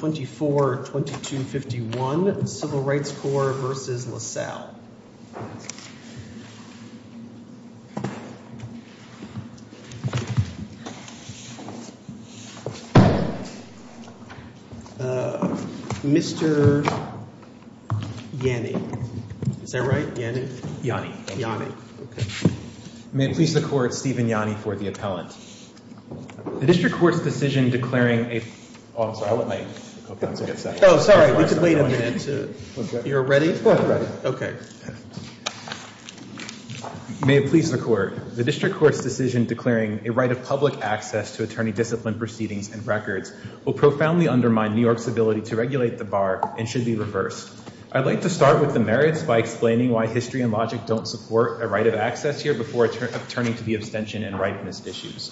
24-2251, Civil Rights Corps v. LaSalle Mr. Yanni, is that right? Yanni? Yanni. May it please the Court, Steven Yanni for the appellant. The District Court's decision declaring a right of public access to attorney-disciplined proceedings and records will profoundly undermine New York's ability to regulate the bar and should be reversed. I'd like to start with the merits by explaining why history and logic don't support a right of access here before turning to the abstention and ripeness issues.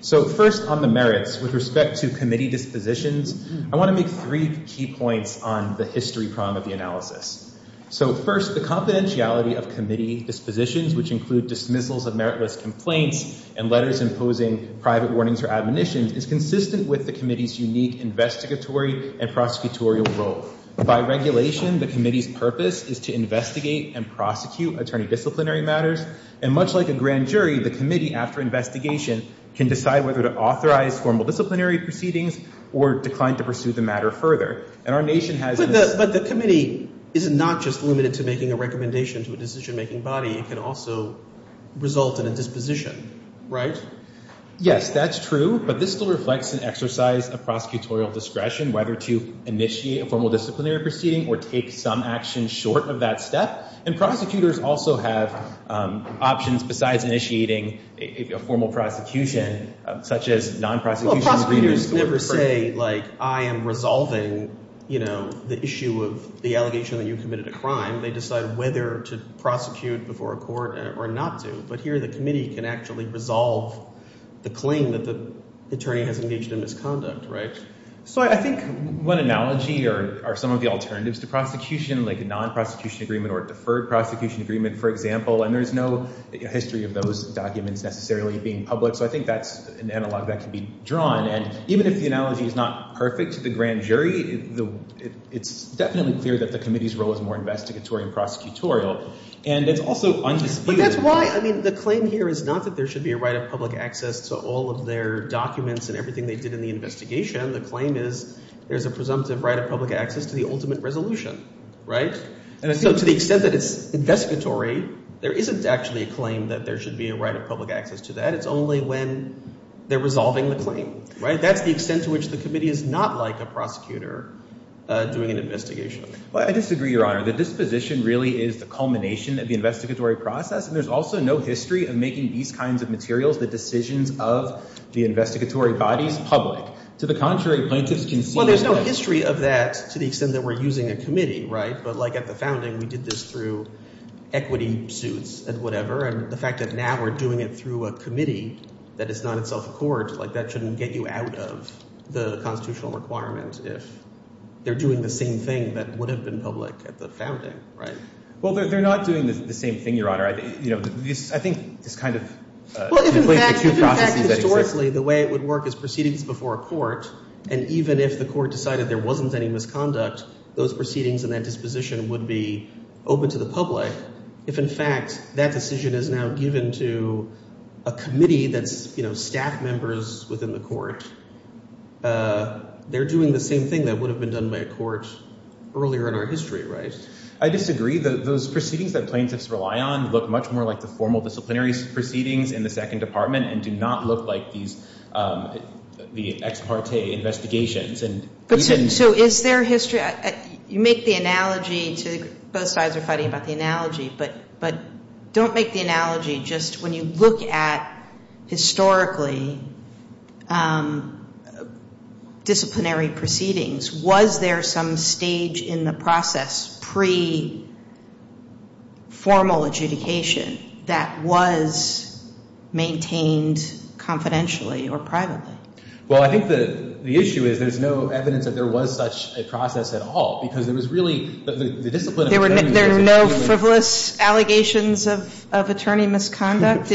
So first on the merits, with respect to committee dispositions, I want to make three key points on the history prong of the analysis. So first, the confidentiality of committee dispositions, which include dismissals of meritless complaints and letters imposing private warnings or admonitions, is consistent with the committee's unique investigatory and prosecutorial role. By regulation, the committee's purpose is to investigate and prosecute attorney-disciplinary matters. And much like a grand jury, the committee, after investigation, can decide whether to authorize formal disciplinary proceedings or decline to pursue the matter further. And our nation has... But the committee is not just limited to making a recommendation to a decision-making body. It can also result in a disposition, right? Yes, that's true. But this still reflects an exercise of prosecutorial discretion, whether to initiate a formal disciplinary proceeding or take some action short of that step. And prosecutors also have options besides initiating a formal prosecution, such as non-prosecution... Well, prosecutors never say, like, I am resolving, you know, the issue of the allegation that you committed a crime. They decide whether to prosecute before a court or not to. But here, the committee can actually resolve the claim that the attorney has engaged in misconduct, right? So I think one analogy are some of the alternatives to prosecution, like a non-prosecution agreement or a deferred prosecution agreement, for example, and there's no history of those documents necessarily being public. So I think that's an analog that can be drawn. And even if the analogy is not perfect to the grand jury, it's definitely clear that the committee's role is more investigatory and prosecutorial. And it's also undisputed... But that's why, I mean, the claim here is not that there should be a right of public access to all of their documents and everything they did in the investigation. The claim is there's a presumptive right of public access to the ultimate resolution, right? And so to the extent that it's investigatory, there isn't actually a claim that there should be a right of public access to that. It's only when they're resolving the claim, right? That's the extent to which the committee is not like a prosecutor doing an investigation. Well, I disagree, Your Honor. The disposition really is the culmination of the investigatory process, and there's also no history of making these kinds of materials, the decisions of the investigatory bodies, public. To the contrary, plaintiffs can see... Well, there's no history of that to the extent that we're using a committee, right? But like at the founding, we did this through equity suits and whatever. And the fact that now we're doing it through a committee that is not itself a court, like that shouldn't get you out of the constitutional requirement if they're doing the same thing that would have been public at the founding, right? Well, they're not doing the same thing, Your Honor. I think it's kind of... Historically, the way it would work is proceedings before a court, and even if the court decided there wasn't any misconduct, those proceedings and that disposition would be open to the public. If in fact that decision is now given to a committee that's staff members within the court, they're doing the same thing that would have been done by a court earlier in our history, right? I disagree. Those proceedings that plaintiffs rely on look much more like the formal disciplinary proceedings in the Second Department and do not look like the ex parte investigations. So is there history... You make the analogy to... Both sides are fighting about the analogy, but don't make the analogy just when you look at historically disciplinary proceedings, was there some stage in the process pre-formal adjudication that was maintained confidentially or privately? Well, I think the issue is there's no evidence that there was such a process at all because there was really... There were no frivolous allegations of attorney misconduct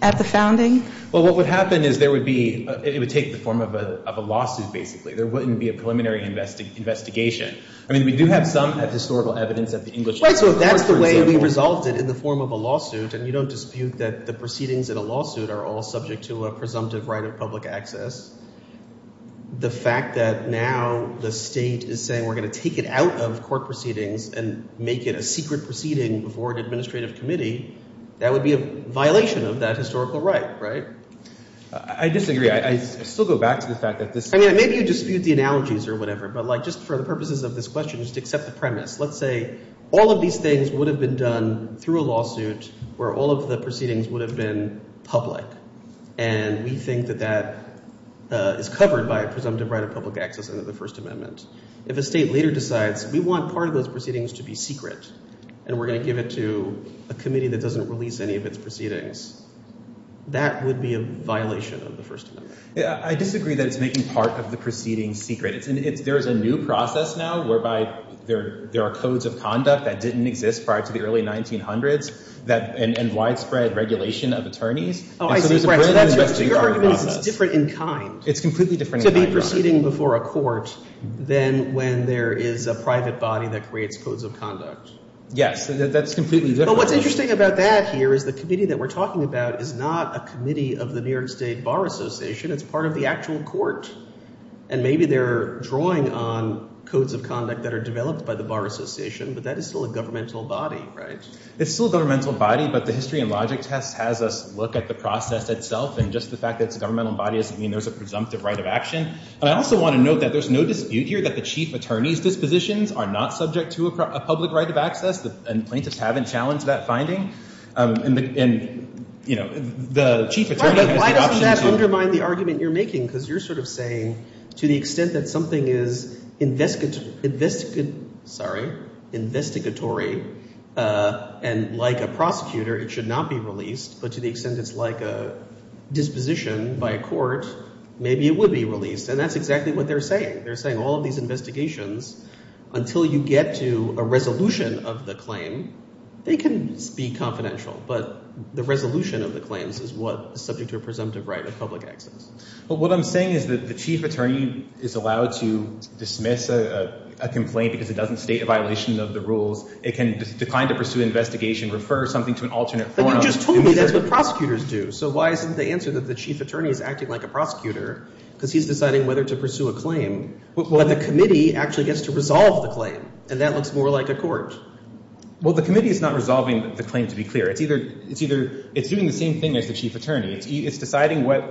at the founding? Well, what would happen is it would take the form of a lawsuit, basically. There wouldn't be a preliminary investigation. I mean, we do have some historical evidence of the English... Right, so if that's the way we resolved it in the form of a lawsuit and you don't dispute that the proceedings in a lawsuit are all subject to a presumptive right of public access, the fact that now the State is saying we're going to take it out of court proceedings and make it a secret proceeding before an administrative committee, that would be a violation of that historical right, right? I disagree. I still go back to the fact that this... I mean, maybe you dispute the analogies or whatever, but just for the purposes of this question, just accept the premise. Let's say all of these things would have been done through a lawsuit where all of the proceedings would have been public, and we think that that is covered by a presumptive right of public access under the First Amendment. If a State leader decides we want part of those proceedings to be secret and we're going to give it to a committee that doesn't release any of its proceedings, that would be a violation of the First Amendment. I disagree that it's making part of the proceedings secret. There is a new process now whereby there are codes of conduct that didn't exist prior to the early 1900s and widespread regulation of attorneys. Oh, I see. That's right. So your argument is it's different in kind. It's completely different in kind. To be proceeding before a court than when there is a private body that creates codes of conduct. Yes, that's completely different. What's interesting about that here is the committee that we're talking about is not a committee of the New York State Bar Association. It's part of the actual court, and maybe they're drawing on codes of conduct that are developed by the Bar Association, but that is still a governmental body, right? It's still a governmental body, but the history and logic test has us look at the process itself and just the fact that it's a governmental body doesn't mean there's a presumptive right of action. I also want to note that there's no dispute here that the chief attorney's dispositions are not subject to a public right of access, and plaintiffs haven't challenged that finding. And, you know, the chief attorney has the option to— Why doesn't that undermine the argument you're making? Because you're sort of saying to the extent that something is investigatory and like a prosecutor it should not be released, but to the extent it's like a disposition by a court, maybe it would be released. And that's exactly what they're saying. They're saying all of these investigations, until you get to a resolution of the claim, they can be confidential, but the resolution of the claims is what is subject to a presumptive right of public access. But what I'm saying is that the chief attorney is allowed to dismiss a complaint because it doesn't state a violation of the rules. It can decline to pursue investigation, refer something to an alternate forum— But you just told me that's what prosecutors do, so why isn't the answer that the chief attorney is acting like a prosecutor because he's deciding whether to pursue a claim, but the committee actually gets to resolve the claim, and that looks more like a court. Well, the committee is not resolving the claim, to be clear. It's either—it's either—it's doing the same thing as the chief attorney. It's deciding what—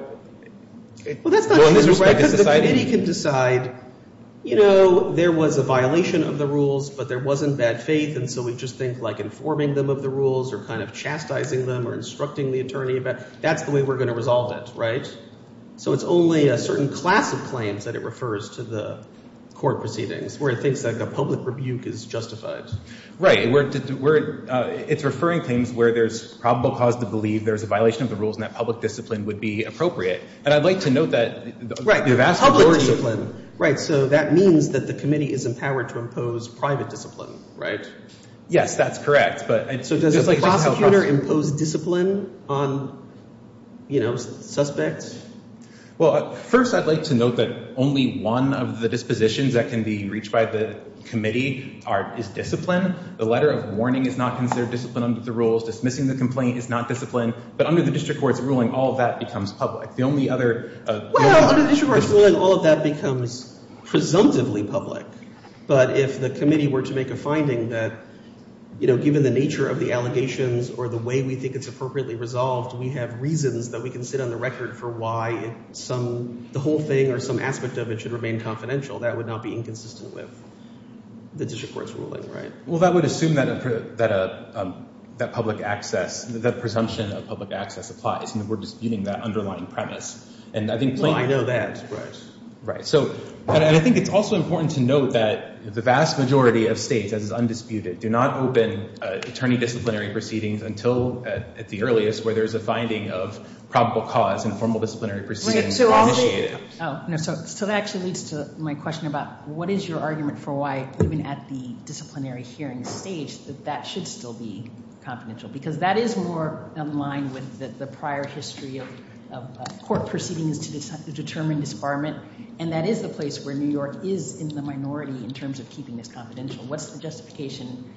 Well, that's not true, because the committee can decide, you know, there was a violation of the rules, but there wasn't bad faith, and so we just think like informing them of the rules or kind of chastising them or instructing the attorney about—that's the way we're going to resolve it, right? So it's only a certain class of claims that it where it thinks that the public rebuke is justified. Right. It's referring claims where there's probable cause to believe there's a violation of the rules and that public discipline would be appropriate, and I'd like to note that— Right, public discipline. Right, so that means that the committee is empowered to impose private discipline, right? Yes, that's correct, but— So does a prosecutor impose discipline on, you know, suspects? Well, first, I'd like to note that only one of the dispositions that can be reached by the committee are—is discipline. The letter of warning is not considered discipline under the rules. Dismissing the complaint is not discipline, but under the district court's ruling, all of that becomes public. The only other— Well, under the district court's ruling, all of that becomes presumptively public, but if the committee were to make a finding that, you know, given the nature of the allegations or the way we think it's appropriately resolved, we have reasons that we can sit on the record for some—the whole thing or some aspect of it should remain confidential, that would not be inconsistent with the district court's ruling, right? Well, that would assume that a—that public access—that presumption of public access applies, and we're disputing that underlying premise, and I think— Well, I know that, right. Right, so—but I think it's also important to note that the vast majority of states, as is undisputed, do not open attorney disciplinary proceedings until at the earliest, where there's a finding of probable cause and formal disciplinary proceedings are initiated. Oh, no, so that actually leads to my question about what is your argument for why, even at the disciplinary hearing stage, that that should still be confidential, because that is more in line with the prior history of court proceedings to determine disbarment, and that is the place where New York is in the minority in terms of keeping this confidential. What's the justification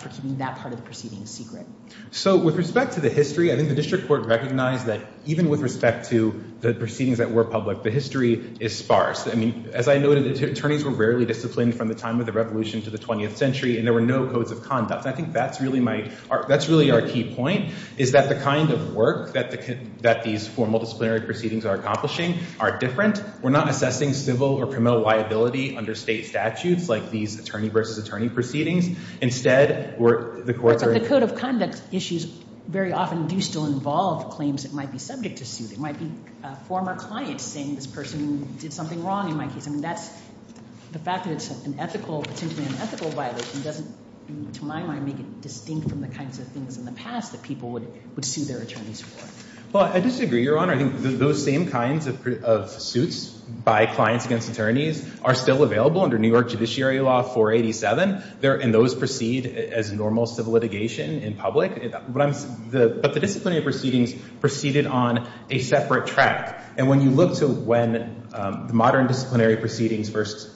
for keeping that part of the proceedings secret? So, with respect to the history, I think the district court recognized that, even with respect to the proceedings that were public, the history is sparse. I mean, as I noted, attorneys were rarely disciplined from the time of the Revolution to the 20th century, and there were no codes of conduct. I think that's really my—that's really our key point, is that the kind of work that the—that these formal disciplinary proceedings are accomplishing are different. We're not assessing civil or criminal liability under state statutes, like these attorney versus attorney proceedings. Instead, where the courts are— But the code of conduct issues very often do still involve claims that might be subject to suit. It might be a former client saying this person did something wrong, in my case. I mean, that's—the fact that it's an ethical—potentially an ethical violation doesn't, to my mind, make it distinct from the kinds of things in the past that people would sue their attorneys for. Well, I disagree, Your Honor. I think those same kinds of suits by clients against attorneys are still available under New York Judiciary Law 487, and those proceed as normal civil litigation in public. But the disciplinary proceedings proceeded on a separate track. And when you look to when the modern disciplinary proceedings first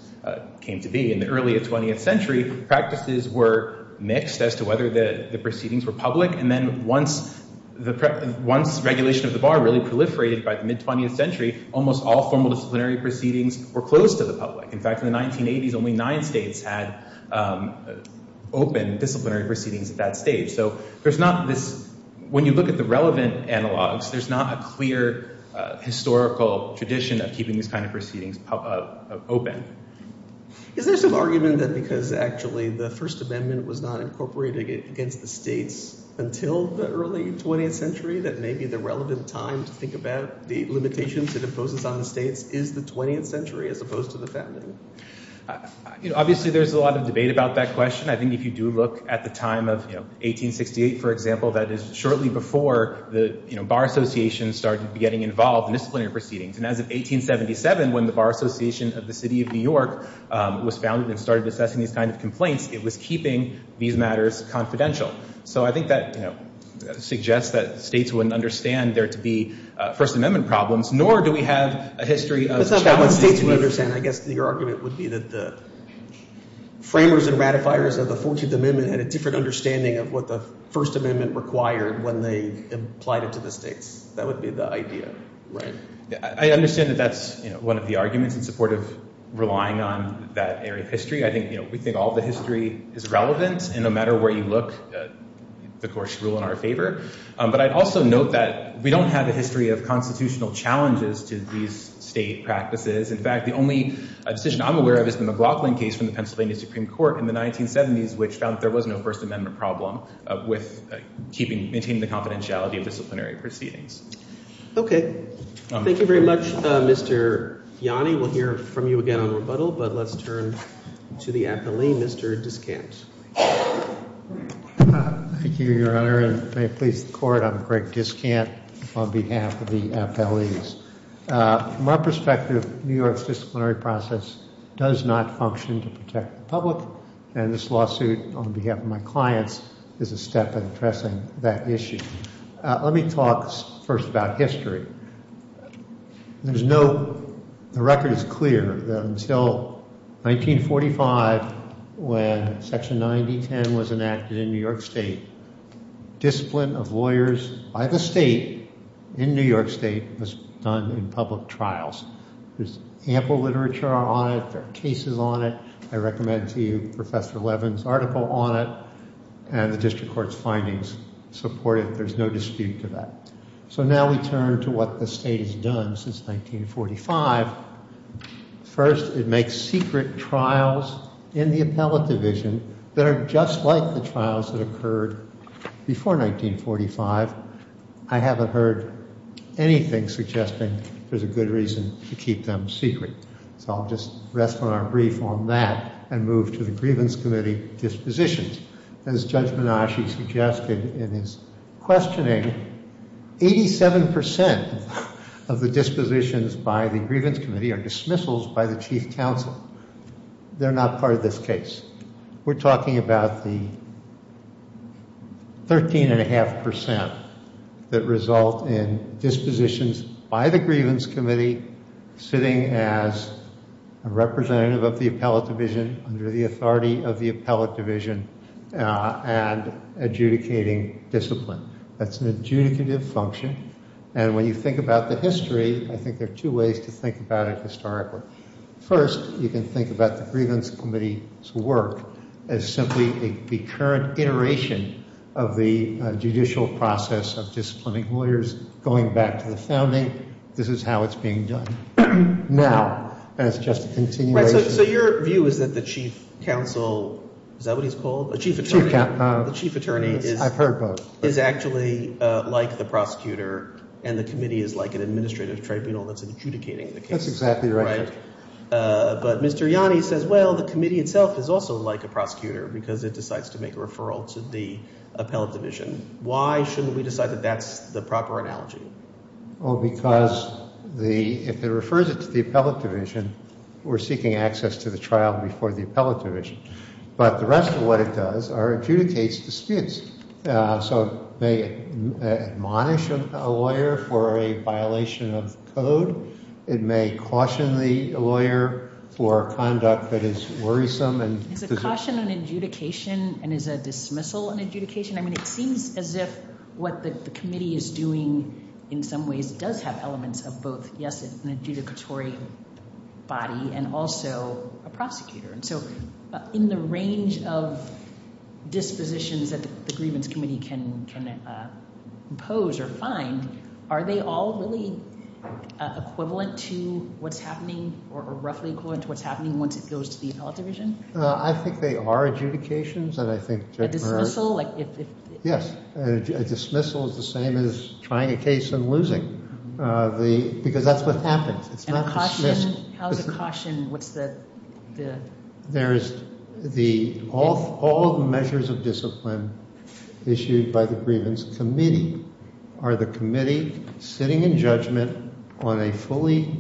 came to be, in the early 20th century, practices were mixed as to whether the proceedings were public. And then once the—once regulation of the bar really proliferated by the mid-20th century, almost all formal disciplinary proceedings were closed to the public. In fact, in the 1980s, only nine states had open disciplinary proceedings at that stage. So there's not this—when you look at the relevant analogs, there's not a clear historical tradition of keeping these kind of proceedings open. Is there some argument that because, actually, the First Amendment was not incorporated against the states until the early 20th century that maybe the relevant time to think about the limitations it imposes on the states is the 20th century as opposed to the founding? You know, obviously, there's a lot of debate about that question. I think if you do look at the time of, you know, 1868, for example, that is shortly before the, you know, bar associations started getting involved in disciplinary proceedings. And as of 1877, when the Bar Association of the City of New York was founded and started assessing these kind of complaints, it was keeping these matters confidential. So I think that, you know, suggests that states wouldn't understand there to be First Amendment problems, nor do we have a history of— That's not what states would understand. I guess your argument would be that the framers and ratifiers of the 14th Amendment had a different understanding of what the First Amendment required when they applied it to the states. That would be the idea, right? I understand that that's, you know, one of the arguments in support of relying on that area of history. I think, you know, we think all the history is relevant, and no matter where you look, the courts rule in our favor. But I'd also note that we don't have a history of constitutional challenges to these state practices. In fact, the only decision I'm aware of is the McLaughlin case from the Pennsylvania Supreme Court in the 1970s, which found there was no First Amendment problem with keeping—maintaining the confidentiality of disciplinary proceedings. Okay. Thank you very much, Mr. Yanni. We'll hear from you again on rebuttal, but let's turn to the appellee, Mr. Discant. Thank you, Your Honor. And may it please the Court, I'm Greg Discant on behalf of the appellees. From our perspective, New York's disciplinary process does not function to protect the public, and this lawsuit on behalf of my clients is a step in addressing that issue. Let me talk first about history. There's no—the record is clear that until 1945, when Section 9010 was enacted in New York State, discipline of lawyers by the state in New York State was done in public trials. There's ample literature on it. There are cases on it. I recommend to you Professor Levin's article on it, and the district court's findings support it. There's no dispute to that. So now we turn to what the state has done since 1945. First, it makes secret trials in the appellate division that are just like the trials that occurred before 1945. I haven't heard anything suggesting there's a good reason to keep them secret. So I'll just rest on our brief on that and move to the grievance committee dispositions. As Judge Menasche suggested in his questioning, 87% of the dispositions by the grievance committee are dismissals by the chief counsel. They're not part of this case. We're talking about the 13.5% that result in dispositions by the grievance committee sitting as a representative of the appellate division under the authority of the appellate division and adjudicating discipline. That's an adjudicative function. And when you think about the history, I think there are two ways to think about it historically. First, you can think about the grievance committee's work as simply a recurrent iteration of the judicial process of disciplining lawyers going back to the founding. This is how it's being done now, and it's just a continuation. So your view is that the chief counsel, is that what he's called? The chief attorney is actually like the prosecutor and the committee is like an administrative tribunal that's adjudicating the case. That's exactly right. But Mr. Yanni says, well, the committee itself is also like a prosecutor because it decides to make a referral to the appellate division. Why shouldn't we decide that that's the proper analogy? Well, because if it refers it to the appellate division, we're seeking access to the trial before the appellate division. But the rest of what it does are adjudicates disputes. So they admonish a lawyer for a violation of code. It may caution the lawyer for conduct that is worrisome. Is a caution an adjudication and is a dismissal an adjudication? It seems as if what the committee is doing in some ways does have elements of both, yes, an adjudicatory body and also a prosecutor. And so in the range of dispositions that the grievance committee can impose or find, are they all really equivalent to what's happening or roughly equivalent to what's happening once it goes to the appellate division? I think they are adjudications. A dismissal? Yes, a dismissal is the same as trying a case and losing because that's what happens. How is a caution? All the measures of discipline issued by the grievance committee are the committee sitting in judgment on a fully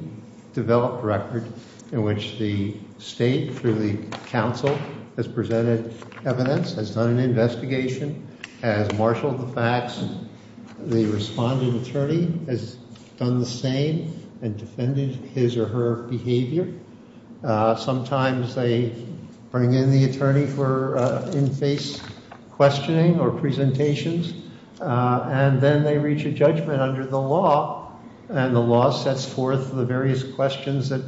developed record in which the state through the council has presented evidence, has done an investigation, has marshaled the facts. The responding attorney has done the same and defended his or her behavior. Sometimes they bring in the attorney for in-face questioning or presentations and then they reach a judgment under the law and the law sets forth the various questions that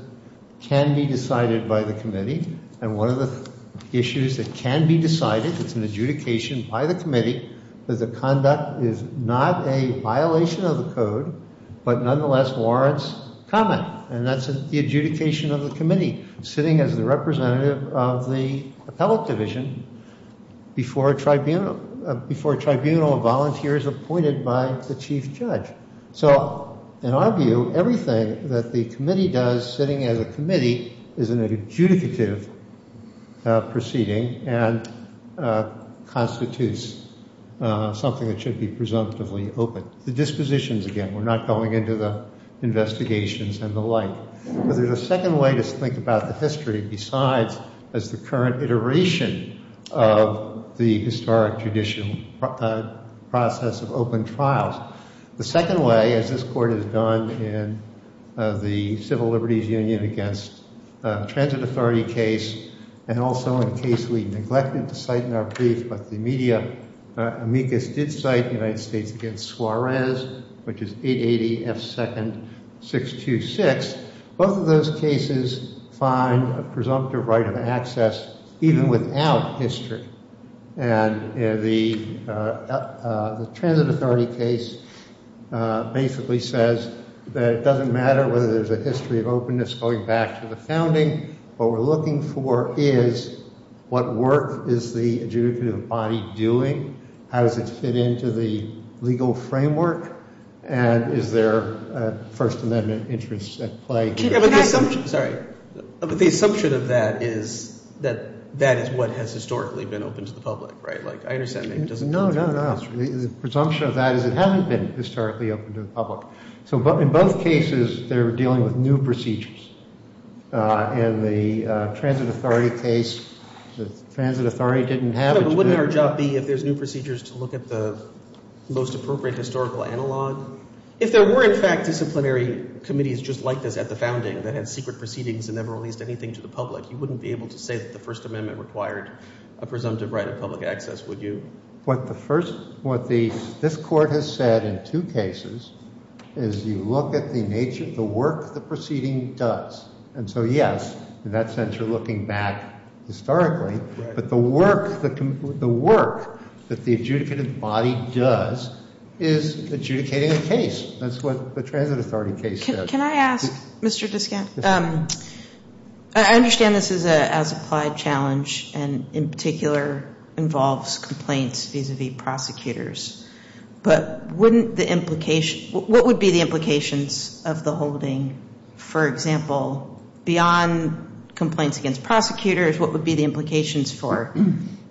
can be decided by the committee. And one of the issues that can be decided, it's an adjudication by the committee, that the conduct is not a violation of the code but nonetheless warrants comment. And that's the adjudication of the committee sitting as the representative of the appellate division before a tribunal of volunteers appointed by the chief judge. So in our view, everything that the committee does sitting as a committee is an adjudicative proceeding and constitutes something that should be presumptively open. The dispositions again, we're not going into the investigations and the like. But there's a second way to think about the history besides as the current iteration of the historic judicial process of open trials. The second way, as this court has done in the Civil Liberties Union against transit authority case, and also in a case we neglected to cite in our brief, but the media amicus did cite, the United States against Suarez, which is 880 F 2nd 626. Both of those cases find a presumptive right of access even without history. And the transit authority case basically says that it doesn't matter whether there's a history of openness going back to the founding. What we're looking for is what work is the adjudicative body doing? How does it fit into the legal framework? And is there a First Amendment interest at play? But the assumption of that is that that is what has historically been open to the public, right? Like I understand that it doesn't. No, no, no. The presumption of that is it hasn't been historically open to the public. So in both cases, they're dealing with new procedures. In the transit authority case, the transit authority didn't have. But wouldn't our job be if there's new procedures to look at the most appropriate historical analog? If there were, in fact, disciplinary committees just like this at the founding that had secret proceedings and never released anything to the public, you wouldn't be able to say that the First Amendment required a presumptive right of public access, would you? What the first, what this Court has said in two cases is you look at the nature, the work the proceeding does. And so, yes, in that sense, you're looking back historically. But the work, the work that the adjudicative body does is adjudicating a case. That's what the transit authority case does. Can I ask, Mr. Diskant, I understand this is an as-applied challenge and in particular involves complaints vis-a-vis prosecutors. But wouldn't the implication, what would be the implications of the holding, for example, beyond complaints against prosecutors, what would be the implications for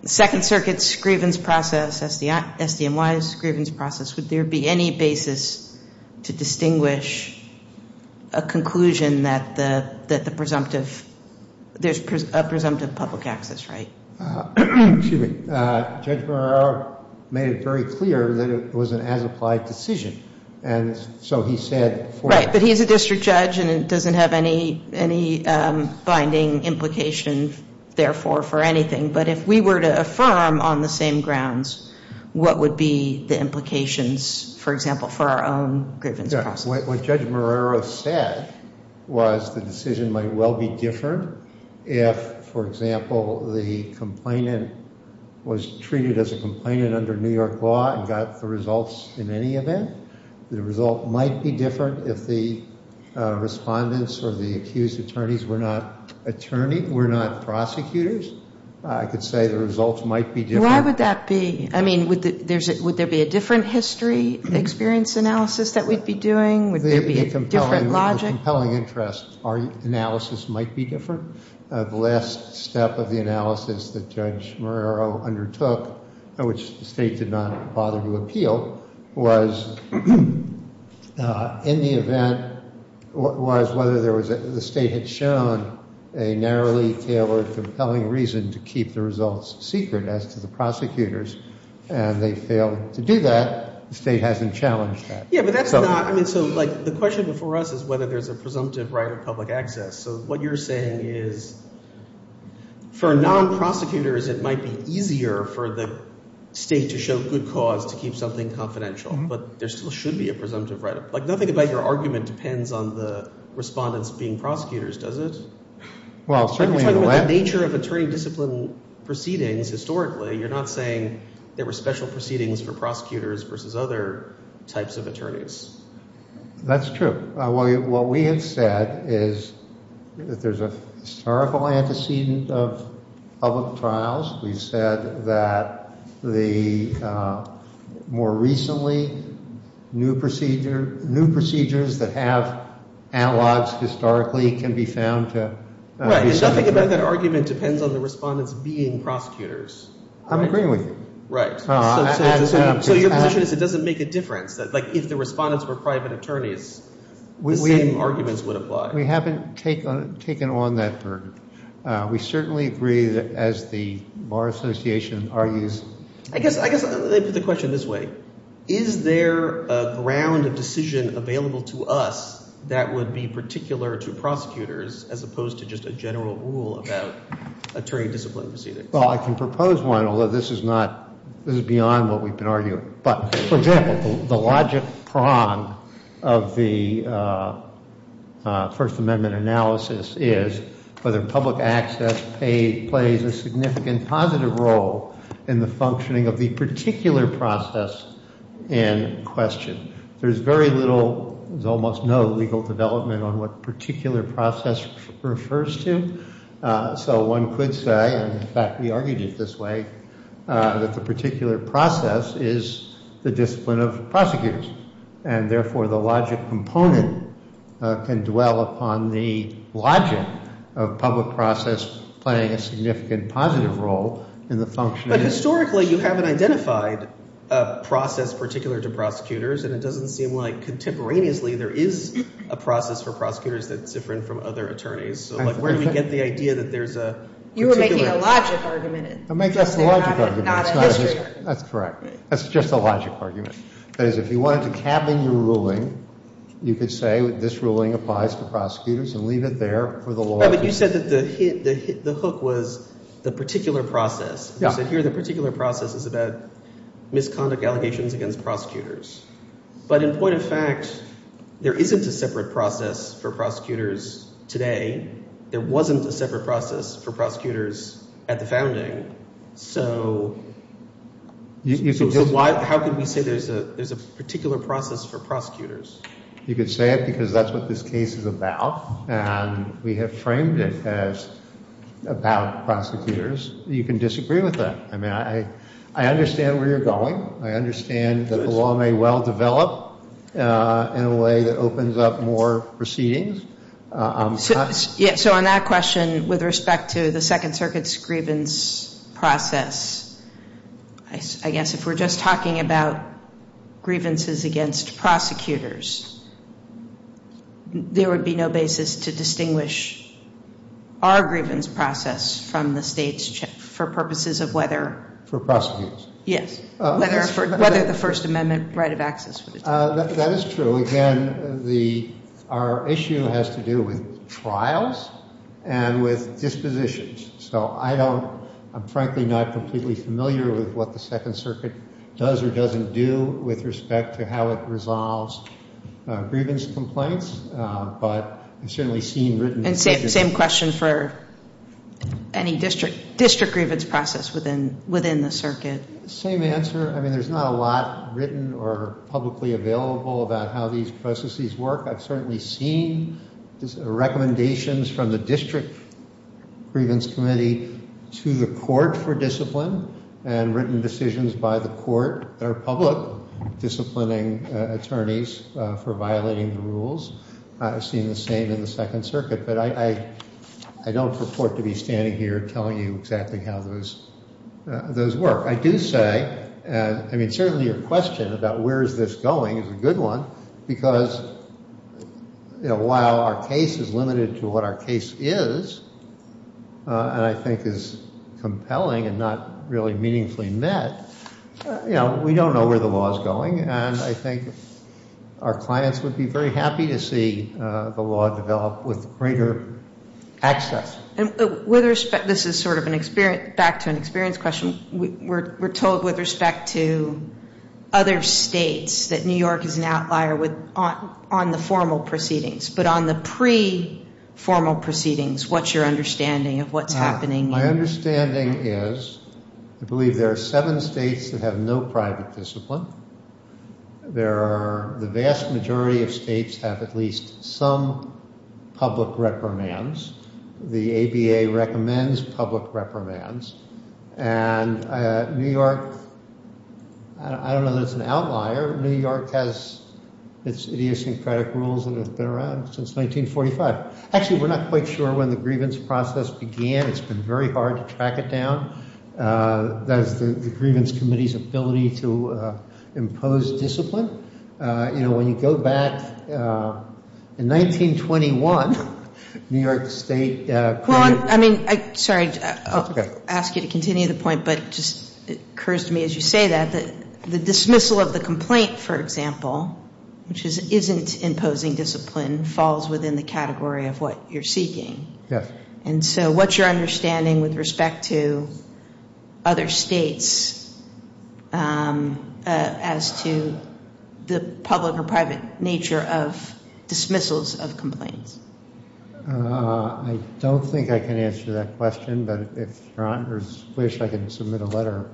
Second Circuit's grievance process, SDNY's grievance process? Would there be any basis to distinguish a conclusion that the, that the presumptive, there's a presumptive public access right? Excuse me. Judge Barrera made it very clear that it was an as-applied decision. And so he said for... He's a district judge and it doesn't have any, any binding implication therefore for anything. But if we were to affirm on the same grounds, what would be the implications, for example, for our own grievance process? What Judge Barrera said was the decision might well be different if, for example, the complainant was treated as a complainant under New York law and got the results in any event. The result might be different if the respondents or the accused attorneys were not attorney, were not prosecutors. I could say the results might be different. Why would that be? I mean, would there be a different history, experience analysis that we'd be doing? Would there be a different logic? Compelling interest. Our analysis might be different. The last step of the analysis that Judge Barrera undertook, which the state did not bother to steal, was in the event, was whether the state had shown a narrowly tailored compelling reason to keep the results secret as to the prosecutors, and they failed to do that. The state hasn't challenged that. Yeah, but that's not... I mean, so like the question before us is whether there's a presumptive right of public access. So what you're saying is for non-prosecutors, it might be easier for the state to show good cause to keep something confidential, but there still should be a presumptive right of... Like, nothing about your argument depends on the respondents being prosecutors, does it? Well, certainly in a way... You're talking about the nature of attorney discipline proceedings historically. You're not saying there were special proceedings for prosecutors versus other types of attorneys. That's true. What we have said is that there's a terrible antecedent of public trials. We've said that more recently, new procedures that have analogs historically can be found to... Right, and nothing about that argument depends on the respondents being prosecutors. I'm agreeing with you. Right. So your position is it doesn't make a difference. Like, if the respondents were private attorneys, the same arguments would apply. We haven't taken on that burden. We certainly agree that as the Bar Association argues... I guess I put the question this way. Is there a ground of decision available to us that would be particular to prosecutors as opposed to just a general rule about attorney discipline proceedings? Well, I can propose one, although this is beyond what we've been arguing. But for example, the logic prong of the First Amendment analysis is whether public access plays a significant positive role in the functioning of the particular process in question. There's very little, there's almost no legal development on what particular process refers to. So one could say, and in fact we argued it this way, that the particular process is the discipline of prosecutors. And therefore, the logic component can dwell upon the logic of public process playing a significant positive role in the functioning... But historically, you haven't identified a process particular to prosecutors. And it doesn't seem like contemporaneously, there is a process for prosecutors that's different from other attorneys. So like, where do we get the idea that there's a particular... You were making a logic argument. I'm making just a logic argument, it's not a history argument. That's correct. That's just a logic argument. Because if you wanted to cabin your ruling, you could say this ruling applies to prosecutors and leave it there for the law. But you said that the hook was the particular process. You said here the particular process is about misconduct allegations against prosecutors. But in point of fact, there isn't a separate process for prosecutors today. There wasn't a separate process for prosecutors at the founding. So how can we say there's a particular process for prosecutors? You could say it because that's what this case is about. And we have framed it as about prosecutors. You can disagree with that. I mean, I understand where you're going. I understand that the law may well develop in a way that opens up more proceedings. So on that question, with respect to the Second Circuit's grievance process, I guess if we're just talking about grievances against prosecutors, there would be no basis to distinguish our grievance process from the state's for purposes of whether... For prosecutors. Yes. Whether the First Amendment right of access would... That is true. Again, our issue has to do with trials and with dispositions. So I'm frankly not completely familiar with what the Second Circuit does or doesn't do with respect to how it resolves grievance complaints. But I've certainly seen written... And same question for any district grievance process within the circuit. Same answer. I mean, there's not a lot written or publicly available about how these processes work. I've certainly seen recommendations from the district grievance committee to the court for discipline and written decisions by the court that are public, disciplining attorneys for violating the rules. I've seen the same in the Second Circuit. But I don't purport to be standing here telling you exactly how those work. I do say, I mean, certainly your question about where is this going is a good one because while our case is limited to what our case is, and I think is compelling and not really meaningfully met, we don't know where the law is going. And I think our clients would be very happy to see the law develop with greater access. With respect... This is sort of back to an experience question. We're told with respect to other states that New York is an outlier on the formal proceedings. But on the pre-formal proceedings, what's your understanding of what's happening? My understanding is I believe there are seven states that have no private discipline. There are... The vast majority of states have at least some public reprimands. The ABA recommends public reprimands. And New York, I don't know that it's an outlier. New York has its idiosyncratic rules that have been around since 1945. Actually, we're not quite sure when the grievance process began. It's been very hard to track it down. That is the Grievance Committee's ability to impose discipline. When you go back, in 1921, New York State... Sorry, I'll ask you to continue the point. But it just occurs to me as you say that, the dismissal of the complaint, for example, which isn't imposing discipline, falls within the category of what you're seeking. Yes. And so what's your understanding with respect to other states as to the public or private nature of dismissals of complaints? I don't think I can answer that question. But if you wish, I can submit a letter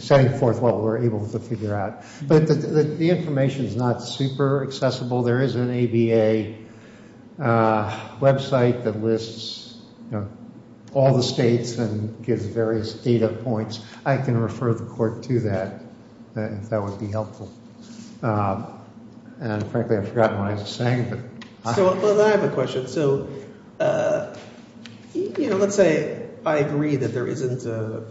setting forth what we're able to figure out. But the information is not super accessible. There is an ABA website that lists all the states and gives various dates. I can refer the court to that if that would be helpful. And frankly, I've forgotten what I was saying. But I have a question. So let's say I agree that there isn't a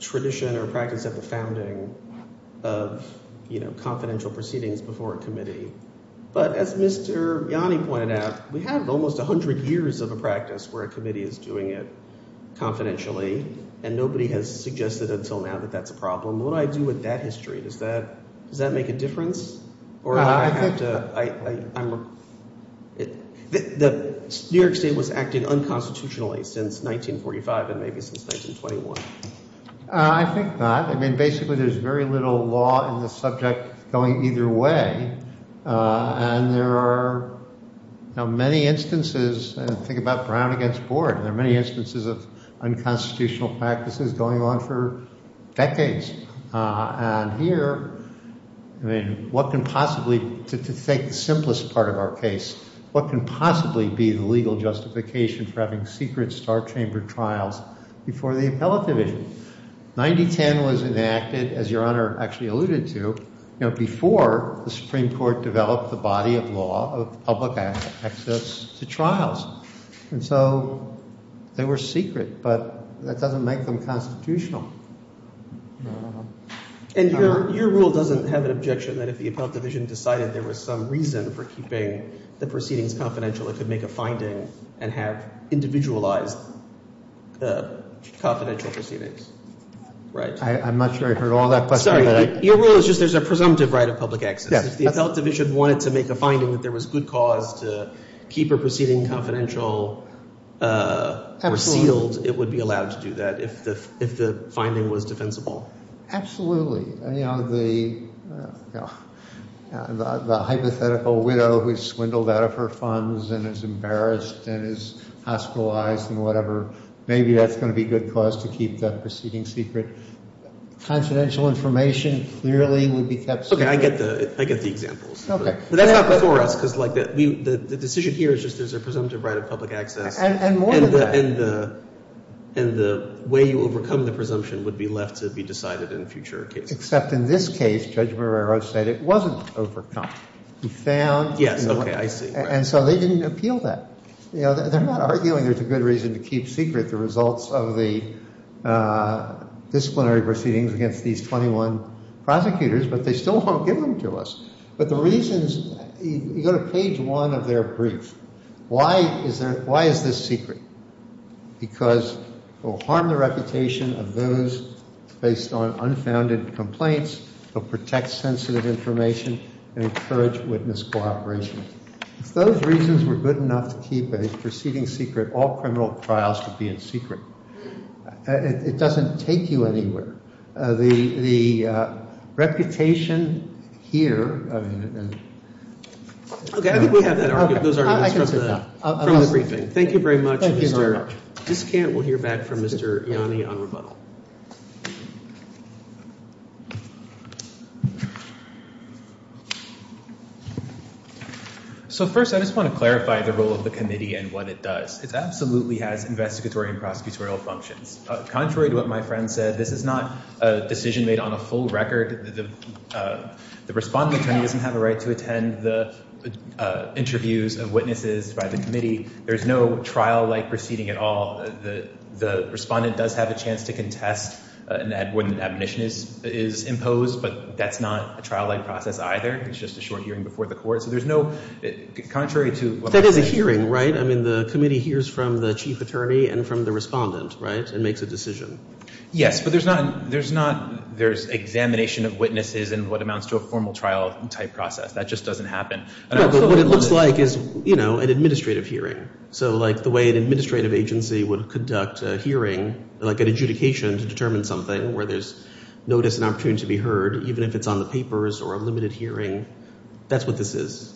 tradition or practice at the founding of confidential proceedings before a committee. But as Mr. Yanni pointed out, we have almost 100 years of a practice where a committee is doing it confidentially. And nobody has suggested until now that that's a problem. What do I do with that history? Does that make a difference? The New York State was acting unconstitutionally since 1945 and maybe since 1921. I think not. I mean, basically, there's very little law in the subject going either way. And there are many instances. And think about Brown against Board. There are many instances of unconstitutional practices going on for decades. And here, I mean, what can possibly, to take the simplest part of our case, what can possibly be the legal justification for having secret star chamber trials before the appellate division? 9010 was enacted, as Your Honor actually alluded to, before the Supreme Court developed the body of law of public access to trials. And so they were secret, but that doesn't make them constitutional. And your rule doesn't have an objection that if the appellate division decided there was some reason for keeping the proceedings confidential, it could make a finding and have individualized the confidential proceedings, right? I'm not sure I heard all that question. Sorry, your rule is just there's a presumptive right of public access. If the appellate division wanted to make a finding that there was good cause to keep a proceeding confidential or sealed, it would be allowed to do that if the finding was defensible. Absolutely. The hypothetical widow who's swindled out of her funds and is embarrassed and is hospitalized and whatever, maybe that's going to be good cause to keep that proceeding secret. Confidential information clearly would be kept secret. Okay, I get the examples. Okay. That's not before us because the decision here is just there's a presumptive right of public access. And more than that. And the way you overcome the presumption would be left to be decided in a future case. Except in this case, Judge Marrero said it wasn't overcome. He found... Yes, okay, I see. And so they didn't appeal that. They're not arguing there's a good reason to keep secret the results of the disciplinary proceedings against these 21 prosecutors, but they still won't give them to us. But the reasons... You go to page one of their brief. Why is this secret? Because it will harm the reputation of those based on unfounded complaints. It'll protect sensitive information and encourage witness cooperation. If those reasons were good enough to keep a proceeding secret, all criminal trials would be in secret. It doesn't take you anywhere. The reputation here... Okay, I think we have that argument. Those arguments from the briefing. Thank you very much, Mr. Discant. We'll hear back from Mr. Ianni on rebuttal. So first, I just want to clarify the role of the committee and what it does. It absolutely has investigatory and prosecutorial functions. Contrary to what my friend said, this is not a decision made on a full record. The respondent attorney doesn't have a right to attend the interviews of witnesses by the committee. There's no trial-like proceeding at all. The respondent does have a chance to contest when an admonition is imposed, but that's not a trial-like process either. It's just a short hearing before the court. So there's no... Contrary to... That is a hearing, right? I mean, the committee hears from the chief attorney and from the respondent, right? It makes a decision. Yes, but there's not... There's examination of witnesses and what amounts to a formal trial-type process. That just doesn't happen. But what it looks like is, you know, an administrative hearing. So, like, the way an administrative agency would conduct a hearing, like an adjudication to determine something, where there's notice and opportunity to be heard, even if it's on the papers or a limited hearing. That's what this is.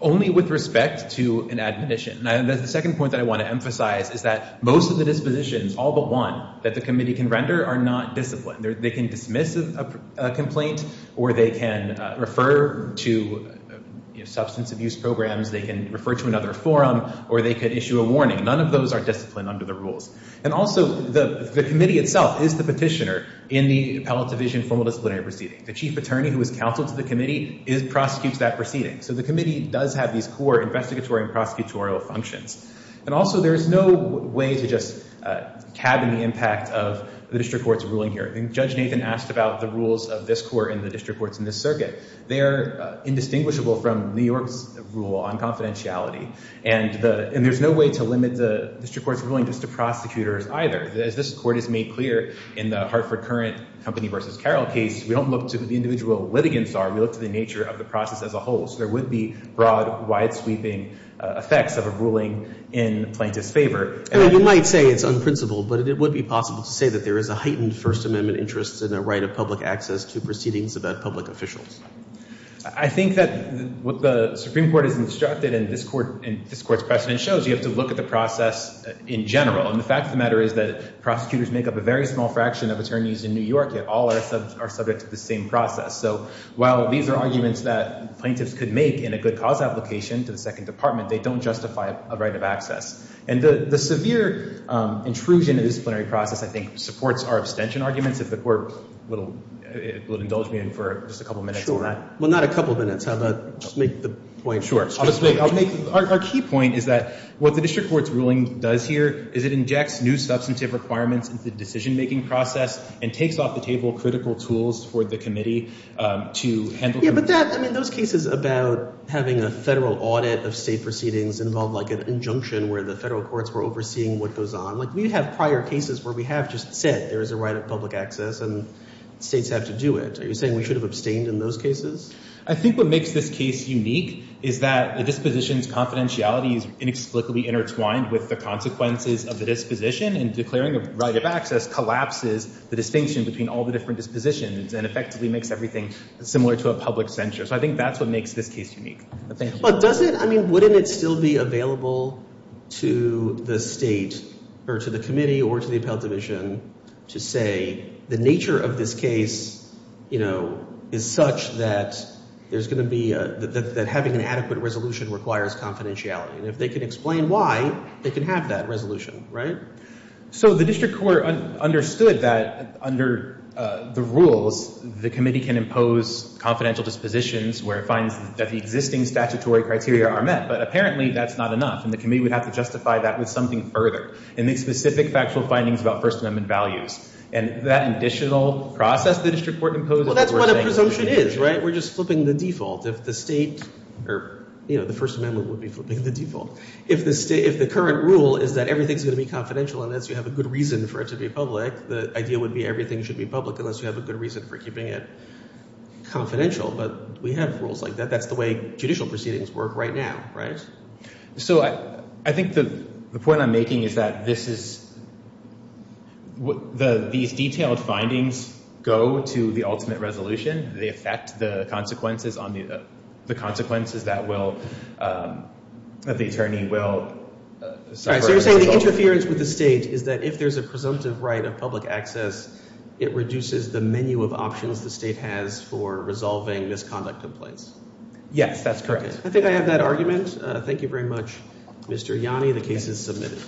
Only with respect to an admonition. And the second point that I want to emphasize is that most of the dispositions, all but one, that the committee can render are not disciplined. They can dismiss a complaint, or they can refer to substance abuse programs, they can refer to another forum, or they could issue a warning. None of those are disciplined under the rules. And also, the committee itself is the petitioner in the appellate division formal disciplinary proceeding. The chief attorney who is counsel to the committee prosecutes that proceeding. So the committee does have these core investigatory and prosecutorial functions. And also, there is no way to just cabin the impact of the district court's ruling here. Judge Nathan asked about the rules of this court and the district courts in this circuit. They're indistinguishable from New York's rule on confidentiality. And there's no way to limit the district court's ruling just to prosecutors either. As this court has made clear in the Hartford Current Company v. Carroll case, we don't look to who the individual litigants are, we look to the nature of the process as a whole. So there would be broad, wide-sweeping effects of a ruling in plaintiff's favor. And you might say it's unprincipled, but it would be possible to say that there is a heightened First Amendment interest in a right of public access to proceedings about public officials. I think that what the Supreme Court has instructed and this court's precedent shows, you have to look at the process in general. And the fact of the matter is that prosecutors make up a very small fraction of attorneys in New York that all are subject to the same process. So while these are arguments that plaintiffs could make in a good cause application to the Second Department, they don't justify a right of access. And the severe intrusion in the disciplinary process, I think, supports our abstention arguments, if the court would indulge me for just a couple minutes on that. Sure. Well, not a couple minutes. How about just make the point straight? Sure. Our key point is that what the district court's ruling does here is it injects new substantive requirements into the decision-making process and takes off the table critical tools for the committee to handle... Yeah, but that, I mean, those cases about having a federal audit of state proceedings involve like an injunction where the federal courts were overseeing what goes on. Like we have prior cases where we have just said there is a right of public access and states have to do it. Are you saying we should have abstained in those cases? I think what makes this case unique is that the disposition's confidentiality is inexplicably intertwined with the consequences of the disposition and declaring a right of access collapses the distinction between all the different dispositions and effectively makes everything similar to a public censure. So I think that's what makes this case unique. But doesn't, I mean, wouldn't it still be available to the state or to the committee or to the appellate division to say the nature of this case, you know, is such that there's going to be a... that having an adequate resolution requires confidentiality. And if they can explain why, they can have that resolution, right? So the district court understood that under the rules, the committee can impose confidential dispositions where it finds that the existing statutory criteria are met. But apparently that's not enough. And the committee would have to justify that with something further and make specific factual findings about First Amendment values. And that additional process the district court imposed... Well, that's what a presumption is, right? We're just flipping the default. If the state or, you know, the First Amendment would be flipping the default. If the current rule is that everything's going to be confidential unless you have a good reason for it to be public, the idea would be everything should be public unless you have a good reason for keeping it confidential. But we have rules like that. That's the way judicial proceedings work right now, right? So I think the point I'm making is that this is... These detailed findings go to the ultimate resolution. They affect the consequences that the attorney will suffer. So you're saying the interference with the state is that if there's a presumptive right of public access, it reduces the menu of options the state has for resolving misconduct complaints? Yes, that's correct. I think I have that argument. Thank you very much, Mr. Yanni. The case is submitted.